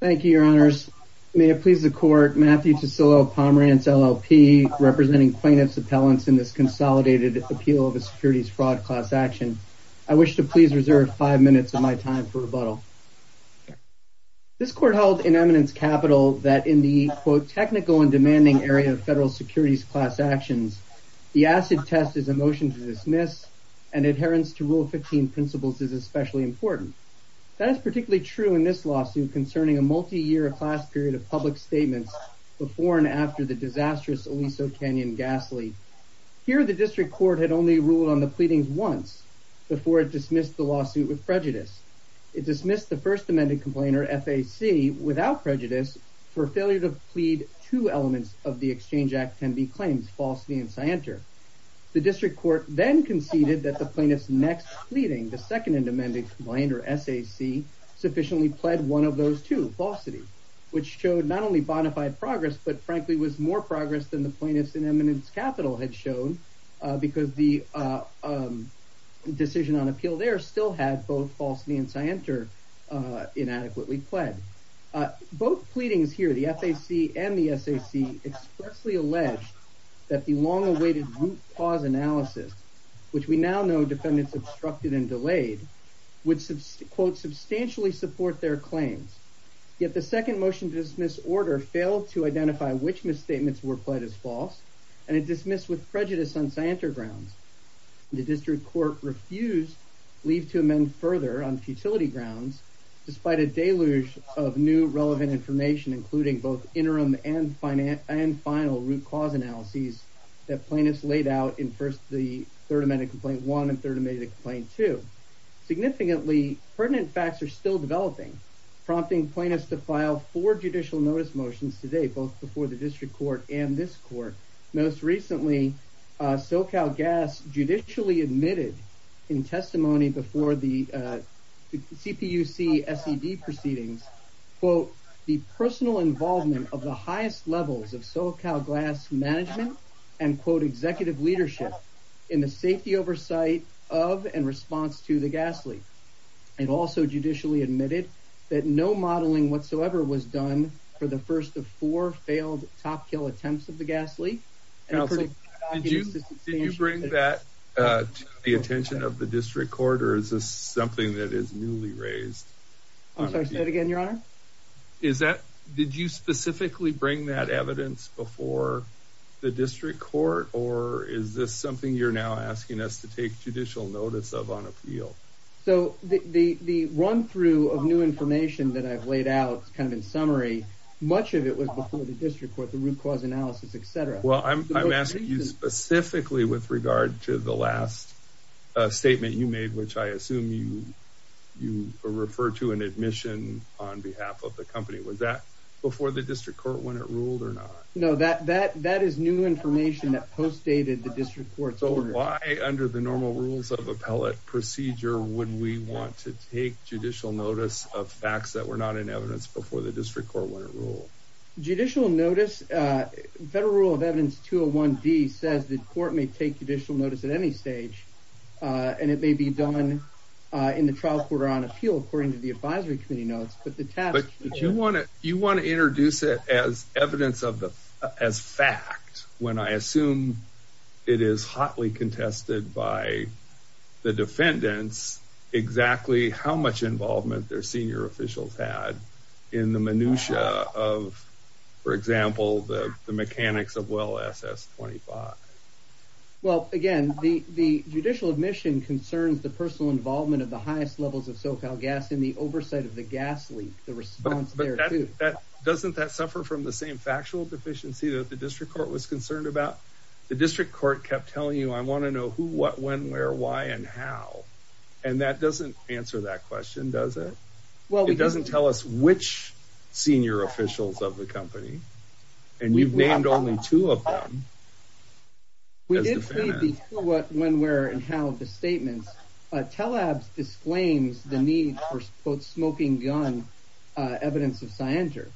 Thank you, your honors. May it please the court, Matthew Tassilo Pomerantz, LLP, representing plaintiff's appellants in this consolidated appeal of a securities fraud class action. I wish to please reserve five minutes of my time for rebuttal. This court held in eminence capital that in the quote technical and demanding area of federal securities class actions, the acid test is a motion to dismiss and adherence to rule 15 principles is especially important. That is particularly true in this lawsuit concerning a multi-year class period of public statements before and after the disastrous Aliso Canyon gas leak. Here the district court had only ruled on the pleadings once before it dismissed the lawsuit with prejudice. It dismissed the first amended complainer, FAC, without prejudice for failure to plead two elements of the Exchange Act can be claimed, falsity and scienter. The district court then conceded that the sufficiently pled one of those two, falsity, which showed not only bonafide progress but frankly was more progress than the plaintiffs in eminence capital had shown because the decision on appeal there still had both falsity and scienter inadequately pled. Both pleadings here, the FAC and the SAC, expressly alleged that the long-awaited root cause analysis, which we now know defendants obstructed and delayed, would quote substantially support their claims. Yet the second motion to dismiss order failed to identify which misstatements were pled as false and it dismissed with prejudice on scienter grounds. The district court refused leave to amend further on futility grounds despite a deluge of new relevant information including both interim and final root cause analyses that plaintiffs laid out in first the third amended complaint one and third amended complaint two. Significantly pertinent facts are still developing prompting plaintiffs to file for judicial notice motions today both before the district court and this court. Most recently SoCalGAS judicially admitted in testimony before the CPUC SED proceedings quote the personal involvement of the highest levels of SoCalGAS management and quote the oversight of and response to the gas leak and also judicially admitted that no modeling whatsoever was done for the first of four failed top kill attempts of the gas leak. Did you bring that to the attention of the district court or is this something that is newly raised? I'm sorry, say it again your honor. Is that did you specifically bring that evidence before the district court or is this something you're now asking us to take judicial notice of on appeal? So the run-through of new information that I've laid out kind of in summary much of it was before the district court the root cause analysis etc. Well I'm asking you specifically with regard to the last statement you made which I assume you you referred to an admission on behalf of the company was that before the district court when it ruled or not? No that that that is new information that postdated the district court's order. So why under the normal rules of appellate procedure would we want to take judicial notice of facts that were not in evidence before the district court when it ruled? Judicial notice federal rule of evidence 201 D says the court may take judicial notice at any stage and it may be done in the trial quarter on appeal according to the advisory committee notes but the task. But you want to you want to introduce it as evidence of the as fact when I assume it is hotly contested by the defendants exactly how much involvement their senior officials had in the minutiae of for example the mechanics of well SS 25. Well again the the judicial admission concerns the personal involvement of the highest levels of SoCal gas in the oversight of the gas leak the response. Doesn't that suffer from the same factual deficiency that the district court was concerned about? The district court kept telling you I want to know who what when where why and how and that doesn't answer that question does it? Well it doesn't tell us which senior officials of the company and we've named only two of them. We did see what when where and how the statements but TELABS disclaims the need for both smoking gun evidence of defendant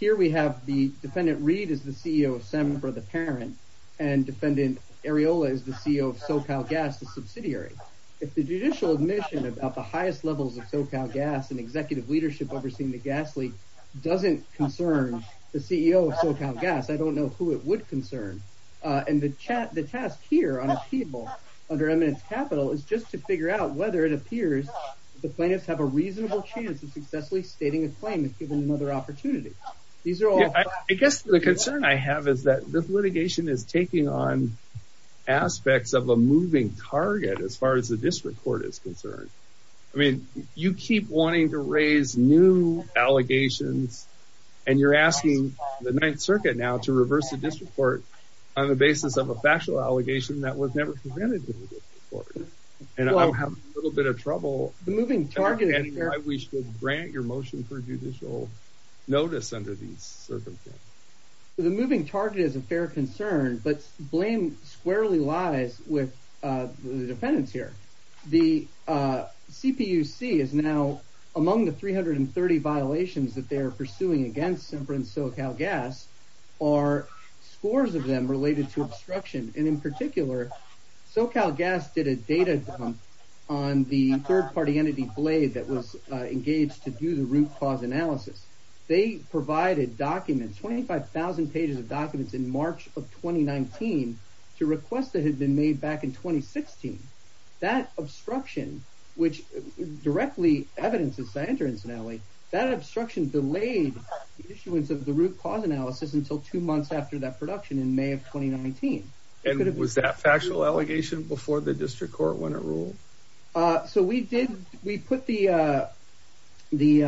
Reed is the CEO of Semper the parent and defendant Areola is the CEO of SoCal gas the subsidiary. If the judicial admission about the highest levels of SoCal gas and executive leadership overseeing the gas leak doesn't concern the CEO of SoCal gas I don't know who it would concern and the chat the task here on a people under eminence capital is just to figure out whether it appears the plaintiffs have a reasonable chance of successfully stating a claim is given another opportunity. I guess the concern I have is that this litigation is taking on aspects of a moving target as far as the district court is concerned. I mean you keep wanting to raise new allegations and you're asking the Ninth Circuit now to reverse the district court on the basis of a factual allegation that was never prevented and I'll have a little bit of trouble I wish to grant your motion for judicial notice under these circumstances. The moving target is a fair concern but blame squarely lies with the defendants here. The CPUC is now among the 330 violations that they are pursuing against Semper and SoCal gas are scores of them related to third-party entity blade that was engaged to do the root cause analysis they provided documents 25,000 pages of documents in March of 2019 to request that had been made back in 2016. That obstruction which directly evidences Sander incidentally that obstruction delayed issuance of the root cause analysis until two months after that production in May of 2019. And was that factual allegation before the district court when it ruled? So we did we put the the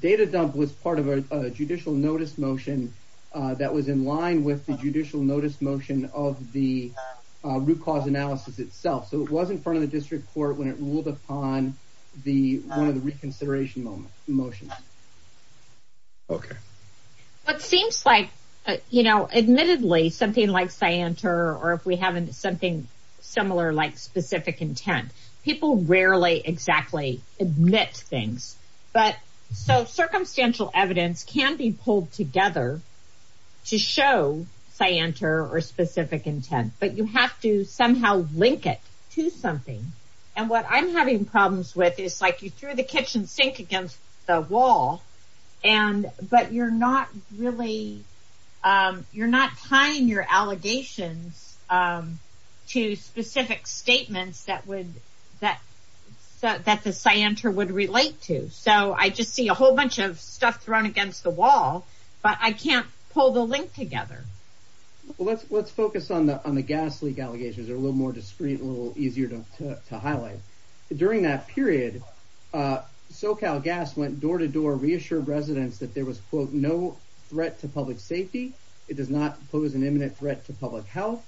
data dump was part of a judicial notice motion that was in line with the judicial notice motion of the root cause analysis itself. So it was in front of the district court when it ruled upon the one of the reconsideration motion. Okay. What seems like you know admittedly something like Cyanter or if we have something similar like specific intent people rarely exactly admit things but so circumstantial evidence can be pulled together to show Cyanter or specific intent but you have to somehow link it to something and what I'm having problems with is like you threw the kitchen sink against the wall and but you're not really you're not tying your allegations to specific statements that would that that the Cyanter would relate to. So I just see a whole bunch of stuff thrown against the wall but I can't pull the link together. Well let's let's focus on the on the gas leak allegations are a little more discreet a little easier to highlight. During that period SoCal gas went door to door reassured residents that there was quote no threat to public safety. It does not pose an imminent threat to public health.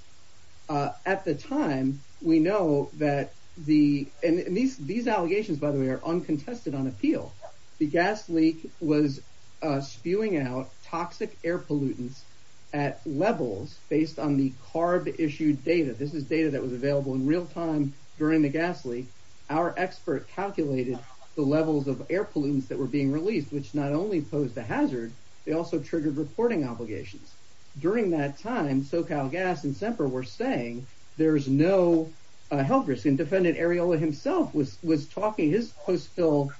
At the time we know that the and these these allegations by the way are uncontested on appeal. The gas leak was spewing out toxic air pollutants at levels based on the carb issued data. This is data that was available in real time during the gas leak. Our expert calculated the levels of air pollutants that were being released which not only posed a hazard they also triggered reporting obligations. During that time SoCal gas and Semper were saying there's no health risk and defendant Areola himself was was talking his post bill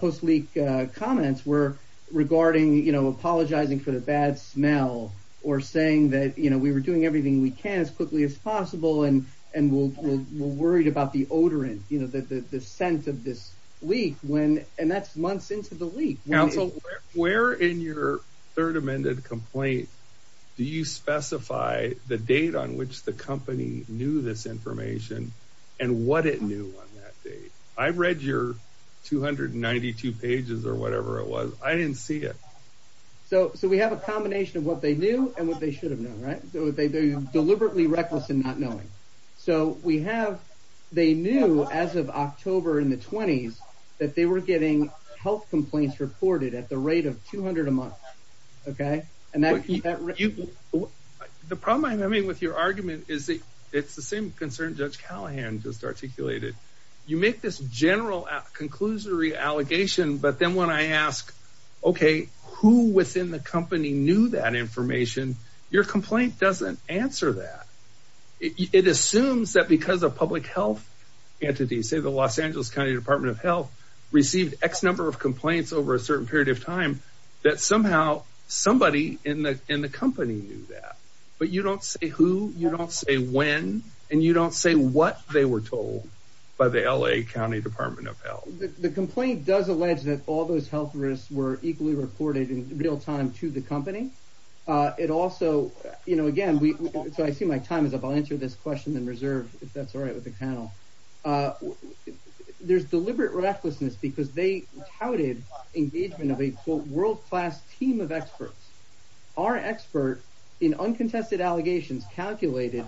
post leak comments were regarding you know apologizing for the bad smell or saying that you know we were doing everything we can as quickly as possible and and we're worried about the odorant you know that the scent of this leak when and that's months into the leak. Counsel where in your third amended complaint do you specify the date on which the company knew this information and what it knew on that date? I've read your 292 pages or whatever it was I didn't see it. So so we have a combination of what they knew and what they should have known they're deliberately reckless in not knowing. So we have they knew as of October in the 20s that they were getting health complaints reported at the rate of 200 a month. Okay and that you the problem I mean with your argument is that it's the same concern Judge Callahan just articulated. You make this general conclusory allegation but then when I ask okay who within the doesn't answer that. It assumes that because of public health entities say the Los Angeles County Department of Health received X number of complaints over a certain period of time that somehow somebody in the in the company knew that. But you don't say who you don't say when and you don't say what they were told by the LA County Department of Health. The complaint does allege that all those health risks were equally reported in real time to the company. It also you know again we so I see my time is up I'll answer this question in reserve if that's all right with the panel. There's deliberate recklessness because they touted engagement of a world-class team of experts. Our expert in uncontested allegations calculated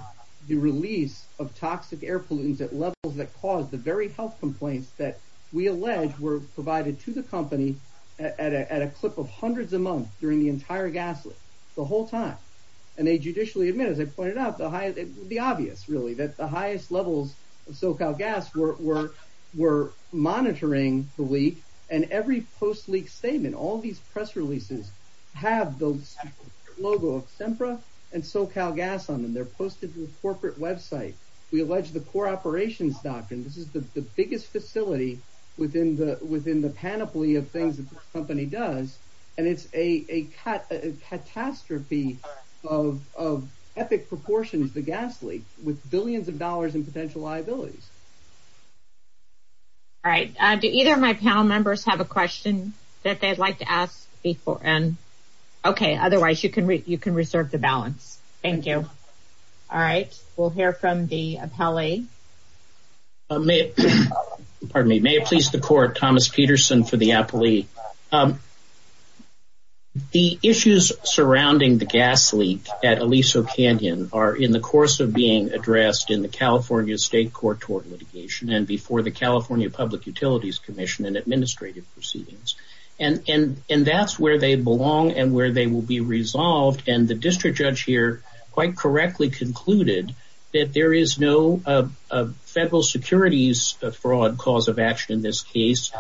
the release of toxic air pollutants at levels that caused the very health complaints that we allege were provided to the company at a clip of hundreds a month during the whole time. And they judicially admit as I pointed out the high the obvious really that the highest levels of SoCal gas were were monitoring the leak and every post leak statement all these press releases have those logo of SEMPRA and SoCal gas on them. They're posted to the corporate website. We allege the core operations doctrine this is the biggest facility within the within the panoply of things the company does and it's a catastrophe of epic proportions the gas leak with billions of dollars in potential liabilities. All right do either of my panel members have a question that they'd like to ask before and okay otherwise you can you can reserve the balance. Thank you. All right we'll hear from the appellee. Pardon me may it please the court Thomas Peterson for the appellee. The issues surrounding the gas leak at Aliso Canyon are in the course of being addressed in the California State Court toward litigation and before the California Public Utilities Commission and administrative proceedings and and and that's where they belong and where they will be resolved and the district judge here quite correctly concluded that there is no federal securities fraud cause of action in this case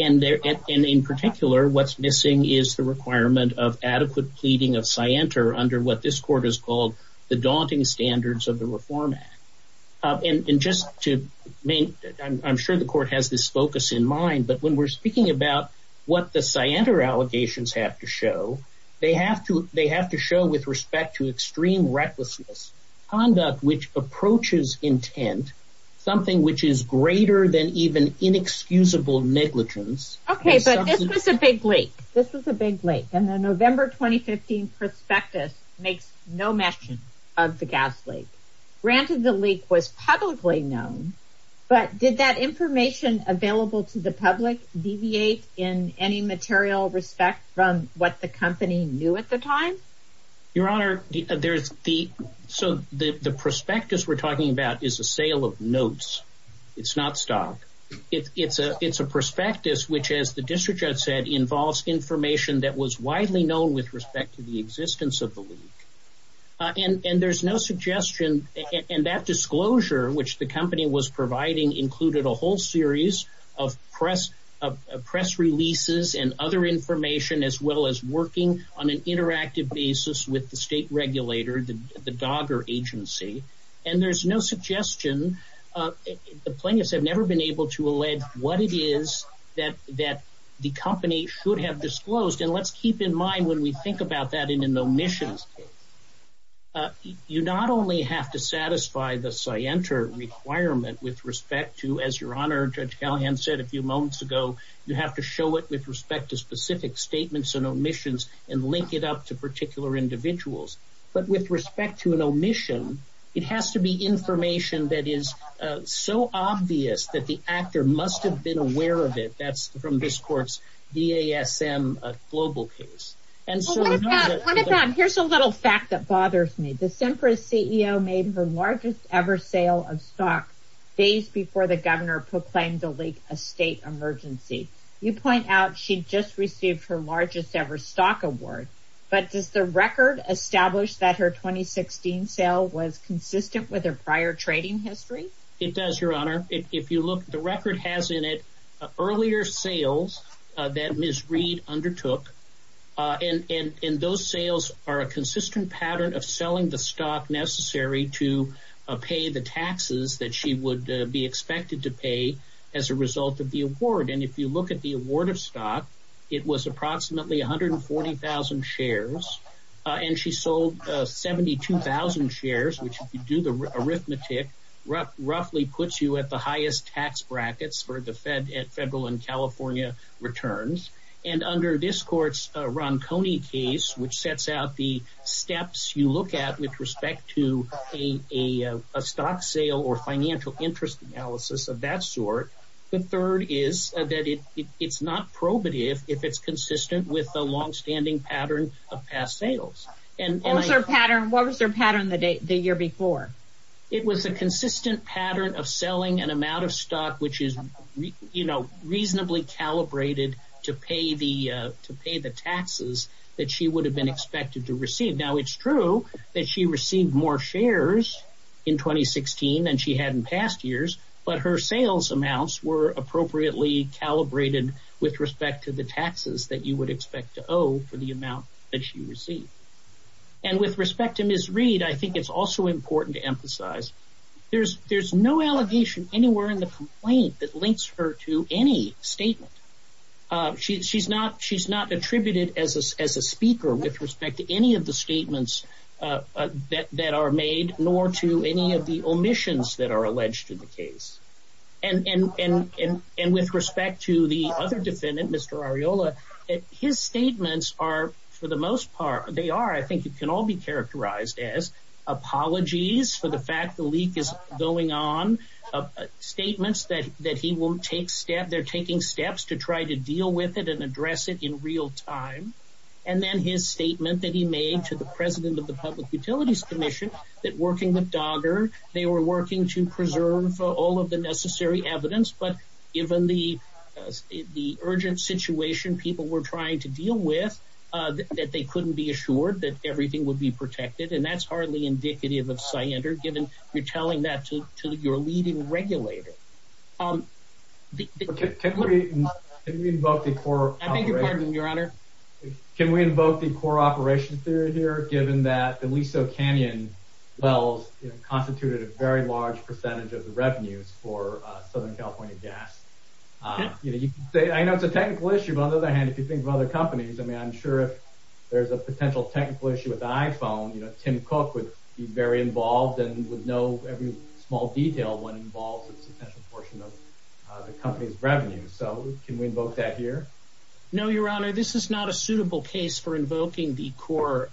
and in particular what's missing is the requirement of adequate pleading of scienter under what this court is called the daunting standards of the Reform Act and just to make I'm sure the court has this focus in mind but when we're speaking about what the scienter allegations have to show they have to show with respect to extreme recklessness conduct which approaches intent something which is greater than even inexcusable negligence. Okay but this was a big leak. This was a big leak and the November 2015 prospectus makes no mention of the gas leak. Granted the leak was publicly known but did that information available to the public deviate in any material respect from what the company knew at the time? Your honor there's the so the the prospectus we're talking about is a sale of notes it's not stock it's a it's a prospectus which as the district judge said involves information that was widely known with respect to the existence of the leak and and there's no suggestion and that disclosure which the company was providing included a whole series of press of press releases and other information as well as working on an interactive basis with the state regulator the the dogger agency and there's no suggestion the plaintiffs have never been able to allege what it is that that the company should have disclosed and let's keep in mind when we think about that in an omission you not only have to satisfy the scienter requirement with respect to as your honor judge Callahan said a few moments ago you have to show it with respect to specific statements and omissions and link it up to particular individuals but with respect to an omission it has to be information that is so obvious that the actor must have been aware of it that's from this courts the ASM global case and so here's a little fact that bothers me the Simpra CEO made her largest ever sale of stock days before the governor proclaimed the leak a state emergency you point out she just received her largest ever stock award but does the record establish that her 2016 sale was consistent with a prior trading history it does your honor if you look the record has in it earlier sales that misread undertook in in in those sales are a consistent pattern of selling the stock necessary to pay the taxes that she would be expected to pay as a result of the award and if you look at the award of stock it was approximately 140,000 shares and she sold 72,000 shares which do the arithmetic roughly puts you at the highest tax brackets for the Fed at Federal and California returns and under this courts Ron Coney case which sets out the steps you look at with respect to a stock sale or financial interest analysis of that sort the third is that it it's not probative if it's consistent with the long-standing pattern of past sales and also pattern what was their pattern the day the year before it was a consistent pattern of selling an amount of stock which is you know reasonably calibrated to pay the to pay the taxes that she would have been expected to receive now it's true that she received more shares in 2016 than she had in past years but her sales amounts were appropriately calibrated with respect to the taxes that you would expect to owe for the amount that she received and with respect to misread I think it's also important to emphasize there's there's no allegation anywhere in the complaint that links her to any statement she's not she's not attributed as a speaker with respect to any of the statements that are made nor to any of the omissions that are alleged to the case and and and and with respect to the other defendant mr. areola his statements are for the most part they are I think you can all be statements that that he won't take step they're taking steps to try to deal with it and address it in real time and then his statement that he made to the president of the Public Utilities Commission that working with dogger they were working to preserve all of the necessary evidence but given the the urgent situation people were trying to deal with that they couldn't be assured that everything would be protected and that's hardly indicative of cyanide or your leading regulator can we invoke the core your honor can we invoke the core operation theory here given that the Aliso Canyon wells constituted a very large percentage of the revenues for Southern California gas you know you say I know it's a technical issue but on the other hand if you think of other companies I mean I'm sure if there's a potential technical issue with the revenue so can we invoke that here no your honor this is not a suitable case for invoking the core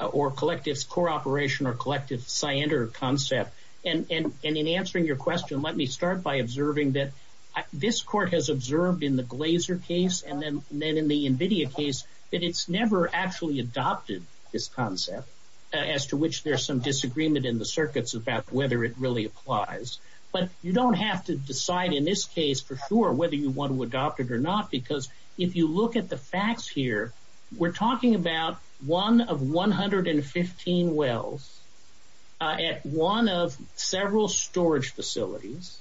or collectives core operation or collective cyander concept and in answering your question let me start by observing that this court has observed in the Glaser case and then then in the Nvidia case that it's never actually adopted this concept as to which there's some disagreement in the circuits about whether it really applies but you don't have to decide in this case for sure whether you want to adopt it or not because if you look at the facts here we're talking about one of 115 wells at one of several storage facilities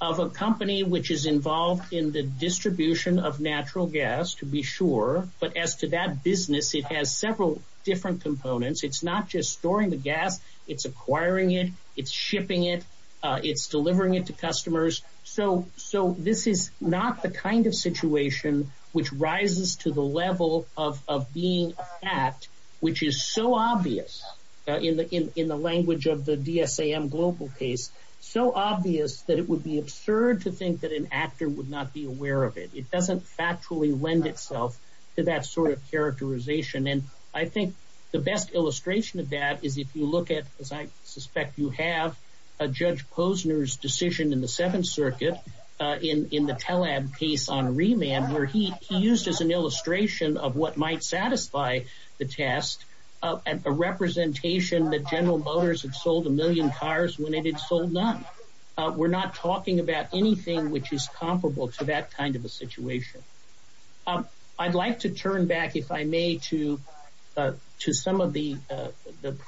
of a company which is involved in the distribution of natural gas to be sure but as to that business it has several different components it's not just storing the gas it's acquiring it it's shipping it it's delivering it to customers so so this is not the kind of situation which rises to the level of being at which is so obvious in the in the language of the DSM global case so obvious that it would be absurd to think that an actor would not be aware of it it doesn't factually lend itself to that sort of characterization and I think the illustration of that is if you look at as I suspect you have a judge Posner's decision in the Seventh Circuit in in the telem case on remand where he used as an illustration of what might satisfy the test and a representation that General Motors had sold a million cars when it had sold none we're not talking about anything which is comparable to that kind of a situation I'd like to turn back if I may to to some of the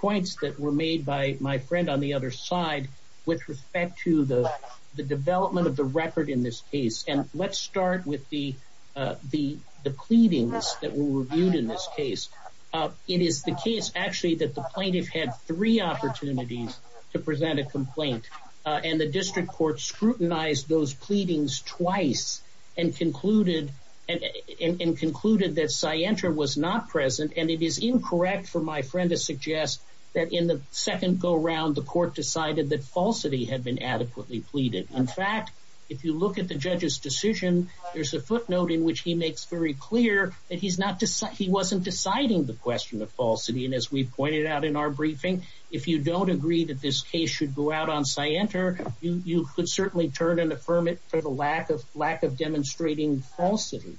points that were made by my friend on the other side with respect to the the development of the record in this case and let's start with the the the pleadings that were reviewed in this case it is the case actually that the plaintiff had three opportunities to present a complaint and the district court scrutinized those pleadings twice and concluded and concluded that Cienter was not present and it is incorrect for my friend to suggest that in the second go-around the court decided that falsity had been adequately pleaded in fact if you look at the judge's decision there's a footnote in which he makes very clear that he's not to say he wasn't deciding the question of falsity and as we pointed out in our briefing if you don't agree that this case should go out on Cienter you could certainly turn and affirm it for the lack of lack of demonstrating falsity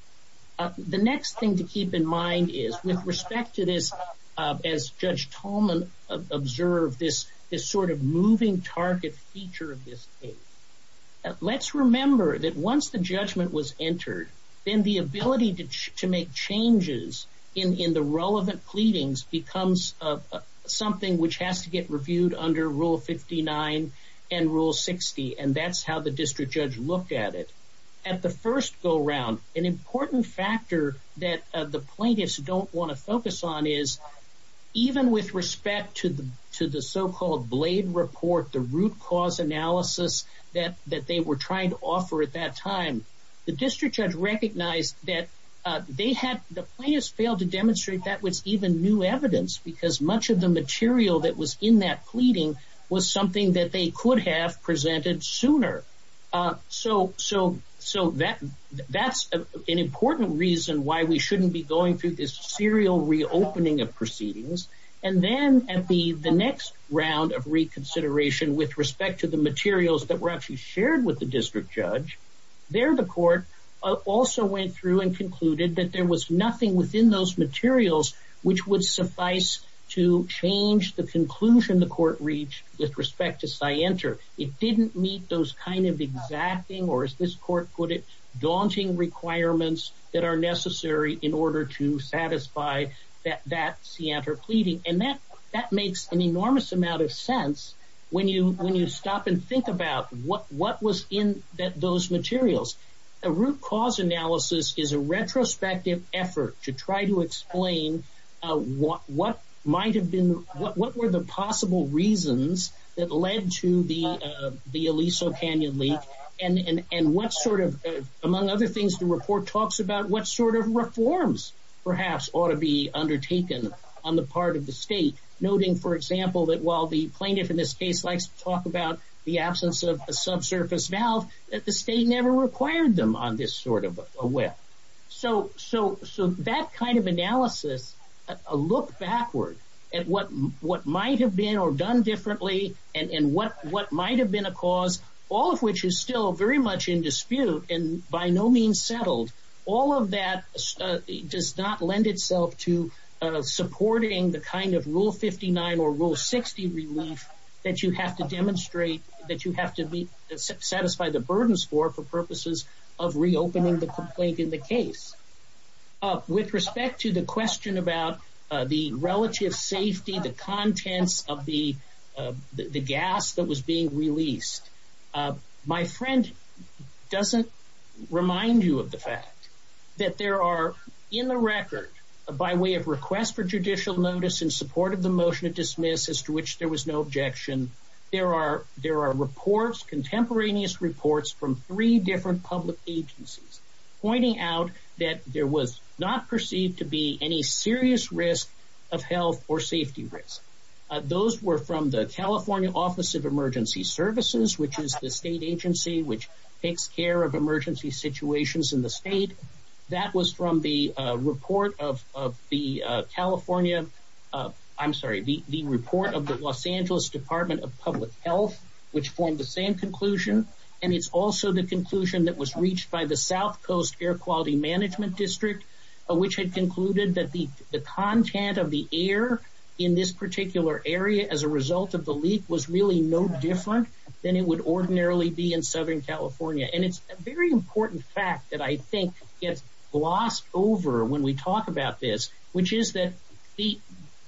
the next thing to keep in mind is with respect to this as judge Tolman observed this this sort of moving target feature of this case let's remember that once the judgment was entered then the ability to make changes in the relevant pleadings becomes something which has to get reviewed under rule 59 and rule 60 and that's how the district judge looked at it at the first go-around an important factor that the plaintiffs don't want to focus on is even with respect to the to the so-called blade report the root cause analysis that that they were trying to offer at that time the district judge recognized that they had the plaintiffs failed to demonstrate that was even new evidence because much of the material that was in that pleading was something that they could have presented sooner so so so that that's an important reason why we shouldn't be going through this serial reopening of proceedings and then at the the next round of reconsideration with respect to the materials that were actually shared with the district judge there the court also went through and concluded that there was nothing within those materials which would suffice to change the conclusion the court reached with respect to cyanter it didn't meet those kind of exacting or as this court put it daunting requirements that are necessary in order to satisfy that that's the after pleading and that that makes an enormous amount of sense when you when you stop and think about what what was in that those materials a root cause analysis is a retrospective effort to try to explain what what might have been what were the possible reasons that led to the the Aliso Canyon leak and and what sort of among other things to report talks about what sort of reforms perhaps ought to be undertaken on the part of the state noting for example that while the plaintiff in this case likes to talk about the absence of a subsurface valve that the state never required them on this sort of a way so so so that kind of analysis a look backward at what what might have been or done differently and what what might have been a cause all of which is still very much in dispute and by no means settled all of that does not lend itself to supporting the kind of rule 59 or rule 60 relief that you have to demonstrate that you have to be satisfied the burdens for for purposes of reopening the complaint in the case with respect to the question about the relative safety the contents of the the gas that was being released my friend doesn't remind you of the fact that there are in the record by way of request for judicial notice in support of the motion of dismiss as to which there was no objection there are there are reports contemporaneous reports from three different public agencies pointing out that there was not perceived to be any serious risk of health or safety risk those were from the California Office of Emergency Services which is the state agency which takes care of emergency situations in the state that was from the report of the California I'm sorry the report of the Los Angeles Department of Public Health which formed the same conclusion and it's also the conclusion that was reached by the South Coast Air Quality Management District which had concluded that the the content of the air in this particular area as a result of the leak was really no different than it would ordinarily be in Southern California and it's a very important fact that I think gets glossed over when we talk about this which is that the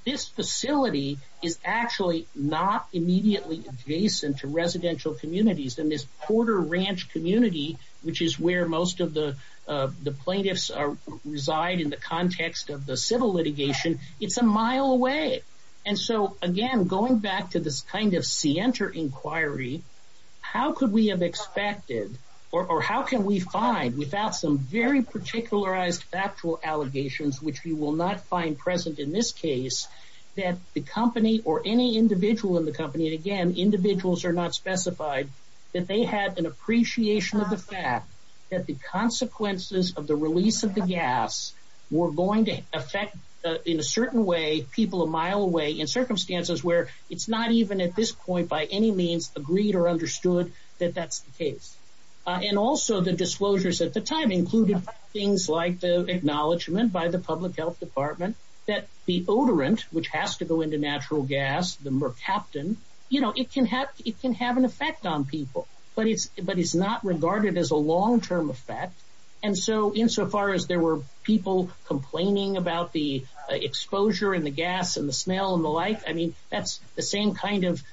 this facility is actually not immediately adjacent to residential communities in this Porter Ranch community which is where most of the the plaintiffs are reside in the context of the civil litigation it's a mile away and so again going back to this kind of scienter inquiry how could we have expected or how can we find without some very particularized actual allegations which we will not find present in this case that the company or any individual in the company again individuals are not specified that they had an appreciation of the fact that the consequences of the release of the gas we're going to affect in a certain way people a mile away in circumstances where it's not even at this point by any means agreed or things like the acknowledgement by the Public Health Department that the odorant which has to go into natural gas the mercaptan you know it can have it can have an effect on people but it's but it's not regarded as a long-term effect and so insofar as there were people complaining about the exposure and the gas and the smell and the like I mean that's the same kind of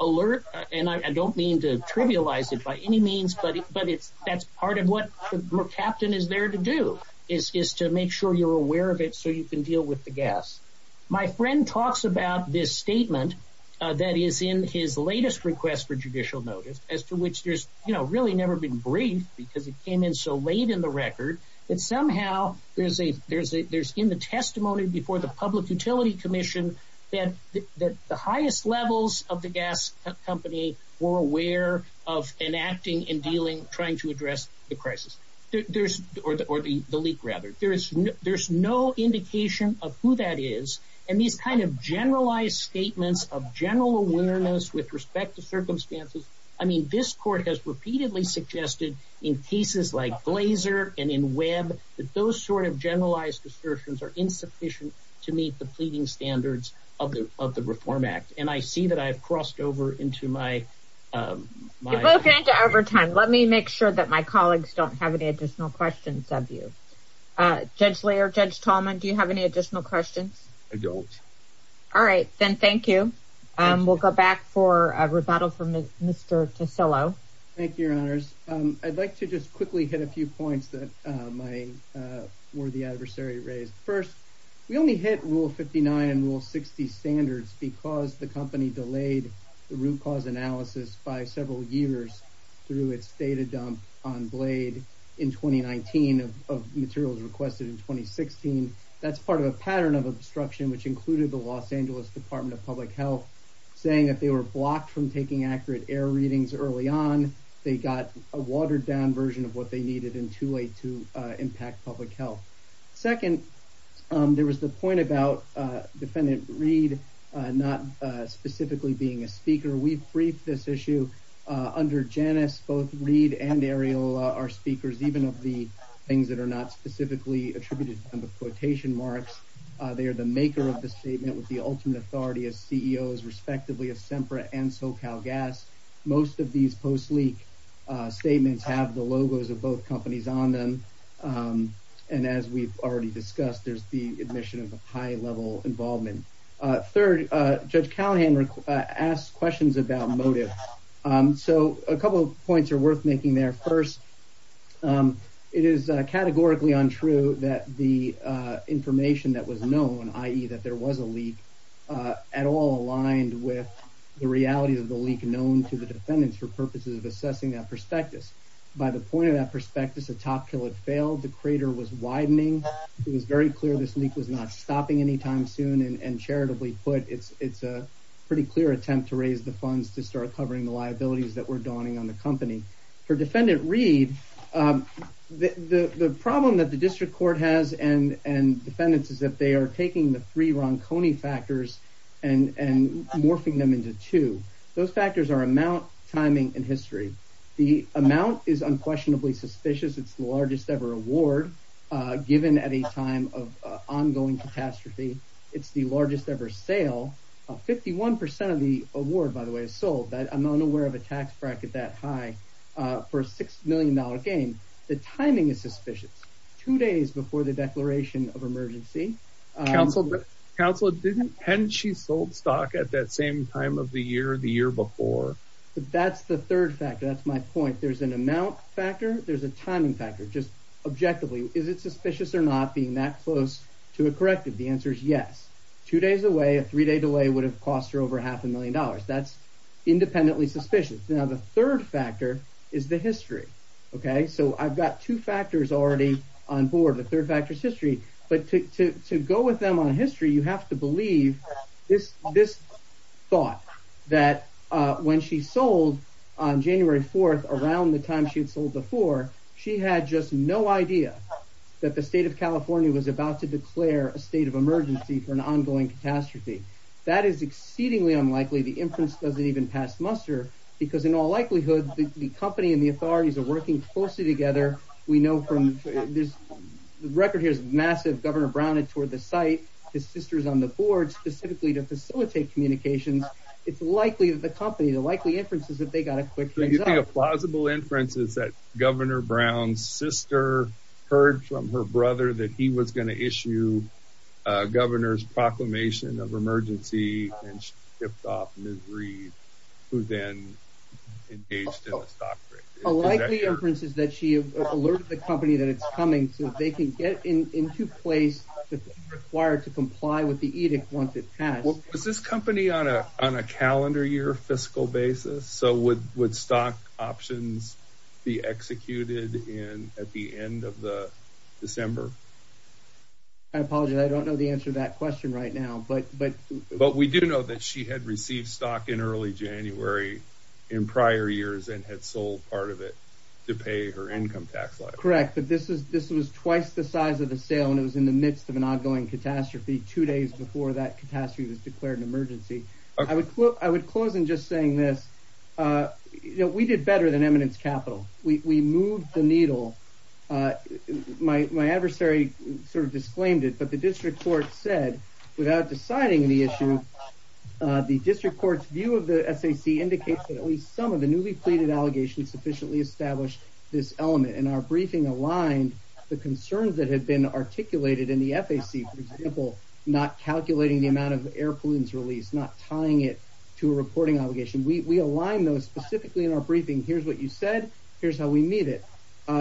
alert and I don't mean to trivialize it by any means buddy but it's that's part of what captain is there to do is to make sure you're aware of it so you can deal with the gas my friend talks about this statement that is in his latest request for judicial notice as to which there's you know really never been briefed because it came in so late in the record and somehow there's a there's a there's in the testimony before the Public Utility Commission that the highest levels of the gas company were aware of enacting and dealing trying to address the crisis there's or the or the the leak rather there is there's no indication of who that is and these kind of generalized statements of general awareness with respect to circumstances I mean this court has repeatedly suggested in cases like blazer and in web that those sort of generalized assertions are insufficient to meet the pleading standards of the of the Reform Act and I see that I've crossed over into my over time let me make sure that my colleagues don't have any additional questions of you gently or judge Tallman do you have any additional questions I don't all right then thank you and we'll go back for a rebuttal from mr. to solo thank you your honors I'd like to just quickly hit a few points that my worthy adversary raised first we only hit rule 59 and rule 60 standards because the company blade in 2019 of materials requested in 2016 that's part of a pattern of obstruction which included the Los Angeles Department of Public Health saying that they were blocked from taking accurate air readings early on they got a watered-down version of what they needed in too late to impact public health second there was the point about defendant read not specifically being a our speakers even of the things that are not specifically attributed quotation marks they are the maker of the statement with the ultimate authority as CEOs respectively of Sempra and SoCal gas most of these post leak statements have the logos of both companies on them and as we've already discussed there's the admission of a high level involvement third judge Callahan asked questions about motive so a couple of points are worth making their first it is categorically untrue that the information that was known ie that there was a leak at all aligned with the reality of the leak known to the defendants for purposes of assessing that prospectus by the point of that prospectus a top kill it failed the crater was widening it was very clear this leak was not stopping anytime soon and charitably put it's it's a pretty clear attempt to raise the funds to start covering the liabilities that were dawning on the company for defendant read the the problem that the district court has and and defendants is that they are taking the three Ron Coney factors and and morphing them into two those factors are amount timing and history the amount is unquestionably suspicious it's the largest ever award given at a time of ongoing catastrophe it's the largest ever sale of 51 percent of the award by the way is sold that I'm unaware of a tax bracket that high for a six million dollar game the timing is suspicious two days before the declaration of emergency council council didn't and she sold stock at that same time of the year the year before that's the third factor that's my point there's an amount factor there's a timing factor just objectively is it suspicious or not being that close to a corrective the answer is yes two days away a three-day delay would have cost her over half a million dollars that's independently suspicious now the third factor is the history okay so I've got two factors already on board the third factors history but to go with them on history you have to believe this this thought that when she sold on January 4th around the time she had sold before she had just no idea that the state of California was about to declare a state of emergency for an ongoing catastrophe that is exceedingly unlikely the inference doesn't even pass muster because in all likelihood the company and the authorities are working closely together we know from this record here's massive governor Brown it toward the site his sister's on the board specifically to facilitate communications it's likely that the company the likely inferences that they got a quick plausible inferences that governor Brown's sister heard from her brother that he was going to issue governor's proclamation of emergency and shipped off misery who then like the inferences that she alerted the company that it's coming so they can get in into place required to comply with the edict once it has well is this company on a on a calendar year fiscal basis so with with options be executed in at the end of the December I apologize I don't know the answer that question right now but but but we do know that she had received stock in early January in prior years and had sold part of it to pay her income tax like correct but this is this was twice the size of the sale and it was in the midst of an ongoing catastrophe two days before that catastrophe was declared an emergency I would look I would close in just saying this you know we did better than eminence capital we moved the needle my adversary sort of disclaimed it but the district court said without deciding the issue the district courts view of the SAC indicates that at least some of the newly pleaded allegations sufficiently established this element in our briefing aligned the concerns that had been articulated in the FAC people not calculating the amount of air pollutants released not tying it to a reporting allegation we align those specifically in our briefing here's what you said here's how we meet it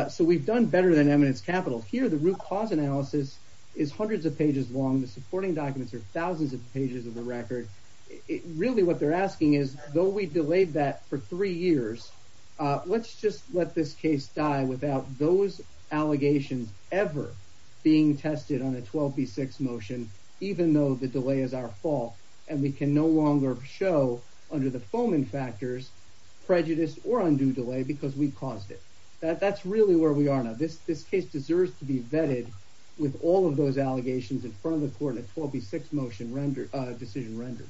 so we've done better than eminence capital here the root cause analysis is hundreds of pages long the supporting documents are thousands of pages of the record it really what they're asking is though we delayed that for three years let's just let this case die without those allegations ever being tested on a 12b6 motion even though the delay is our fault and we can no longer show under the foeman factors prejudice or undue delay because we caused it that's really where we are now this this case deserves to be vetted with all of those allegations in front of the court at 12b6 motion render decision rendered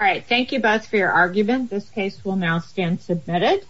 all right thank you both for your argument this case will now stand submitted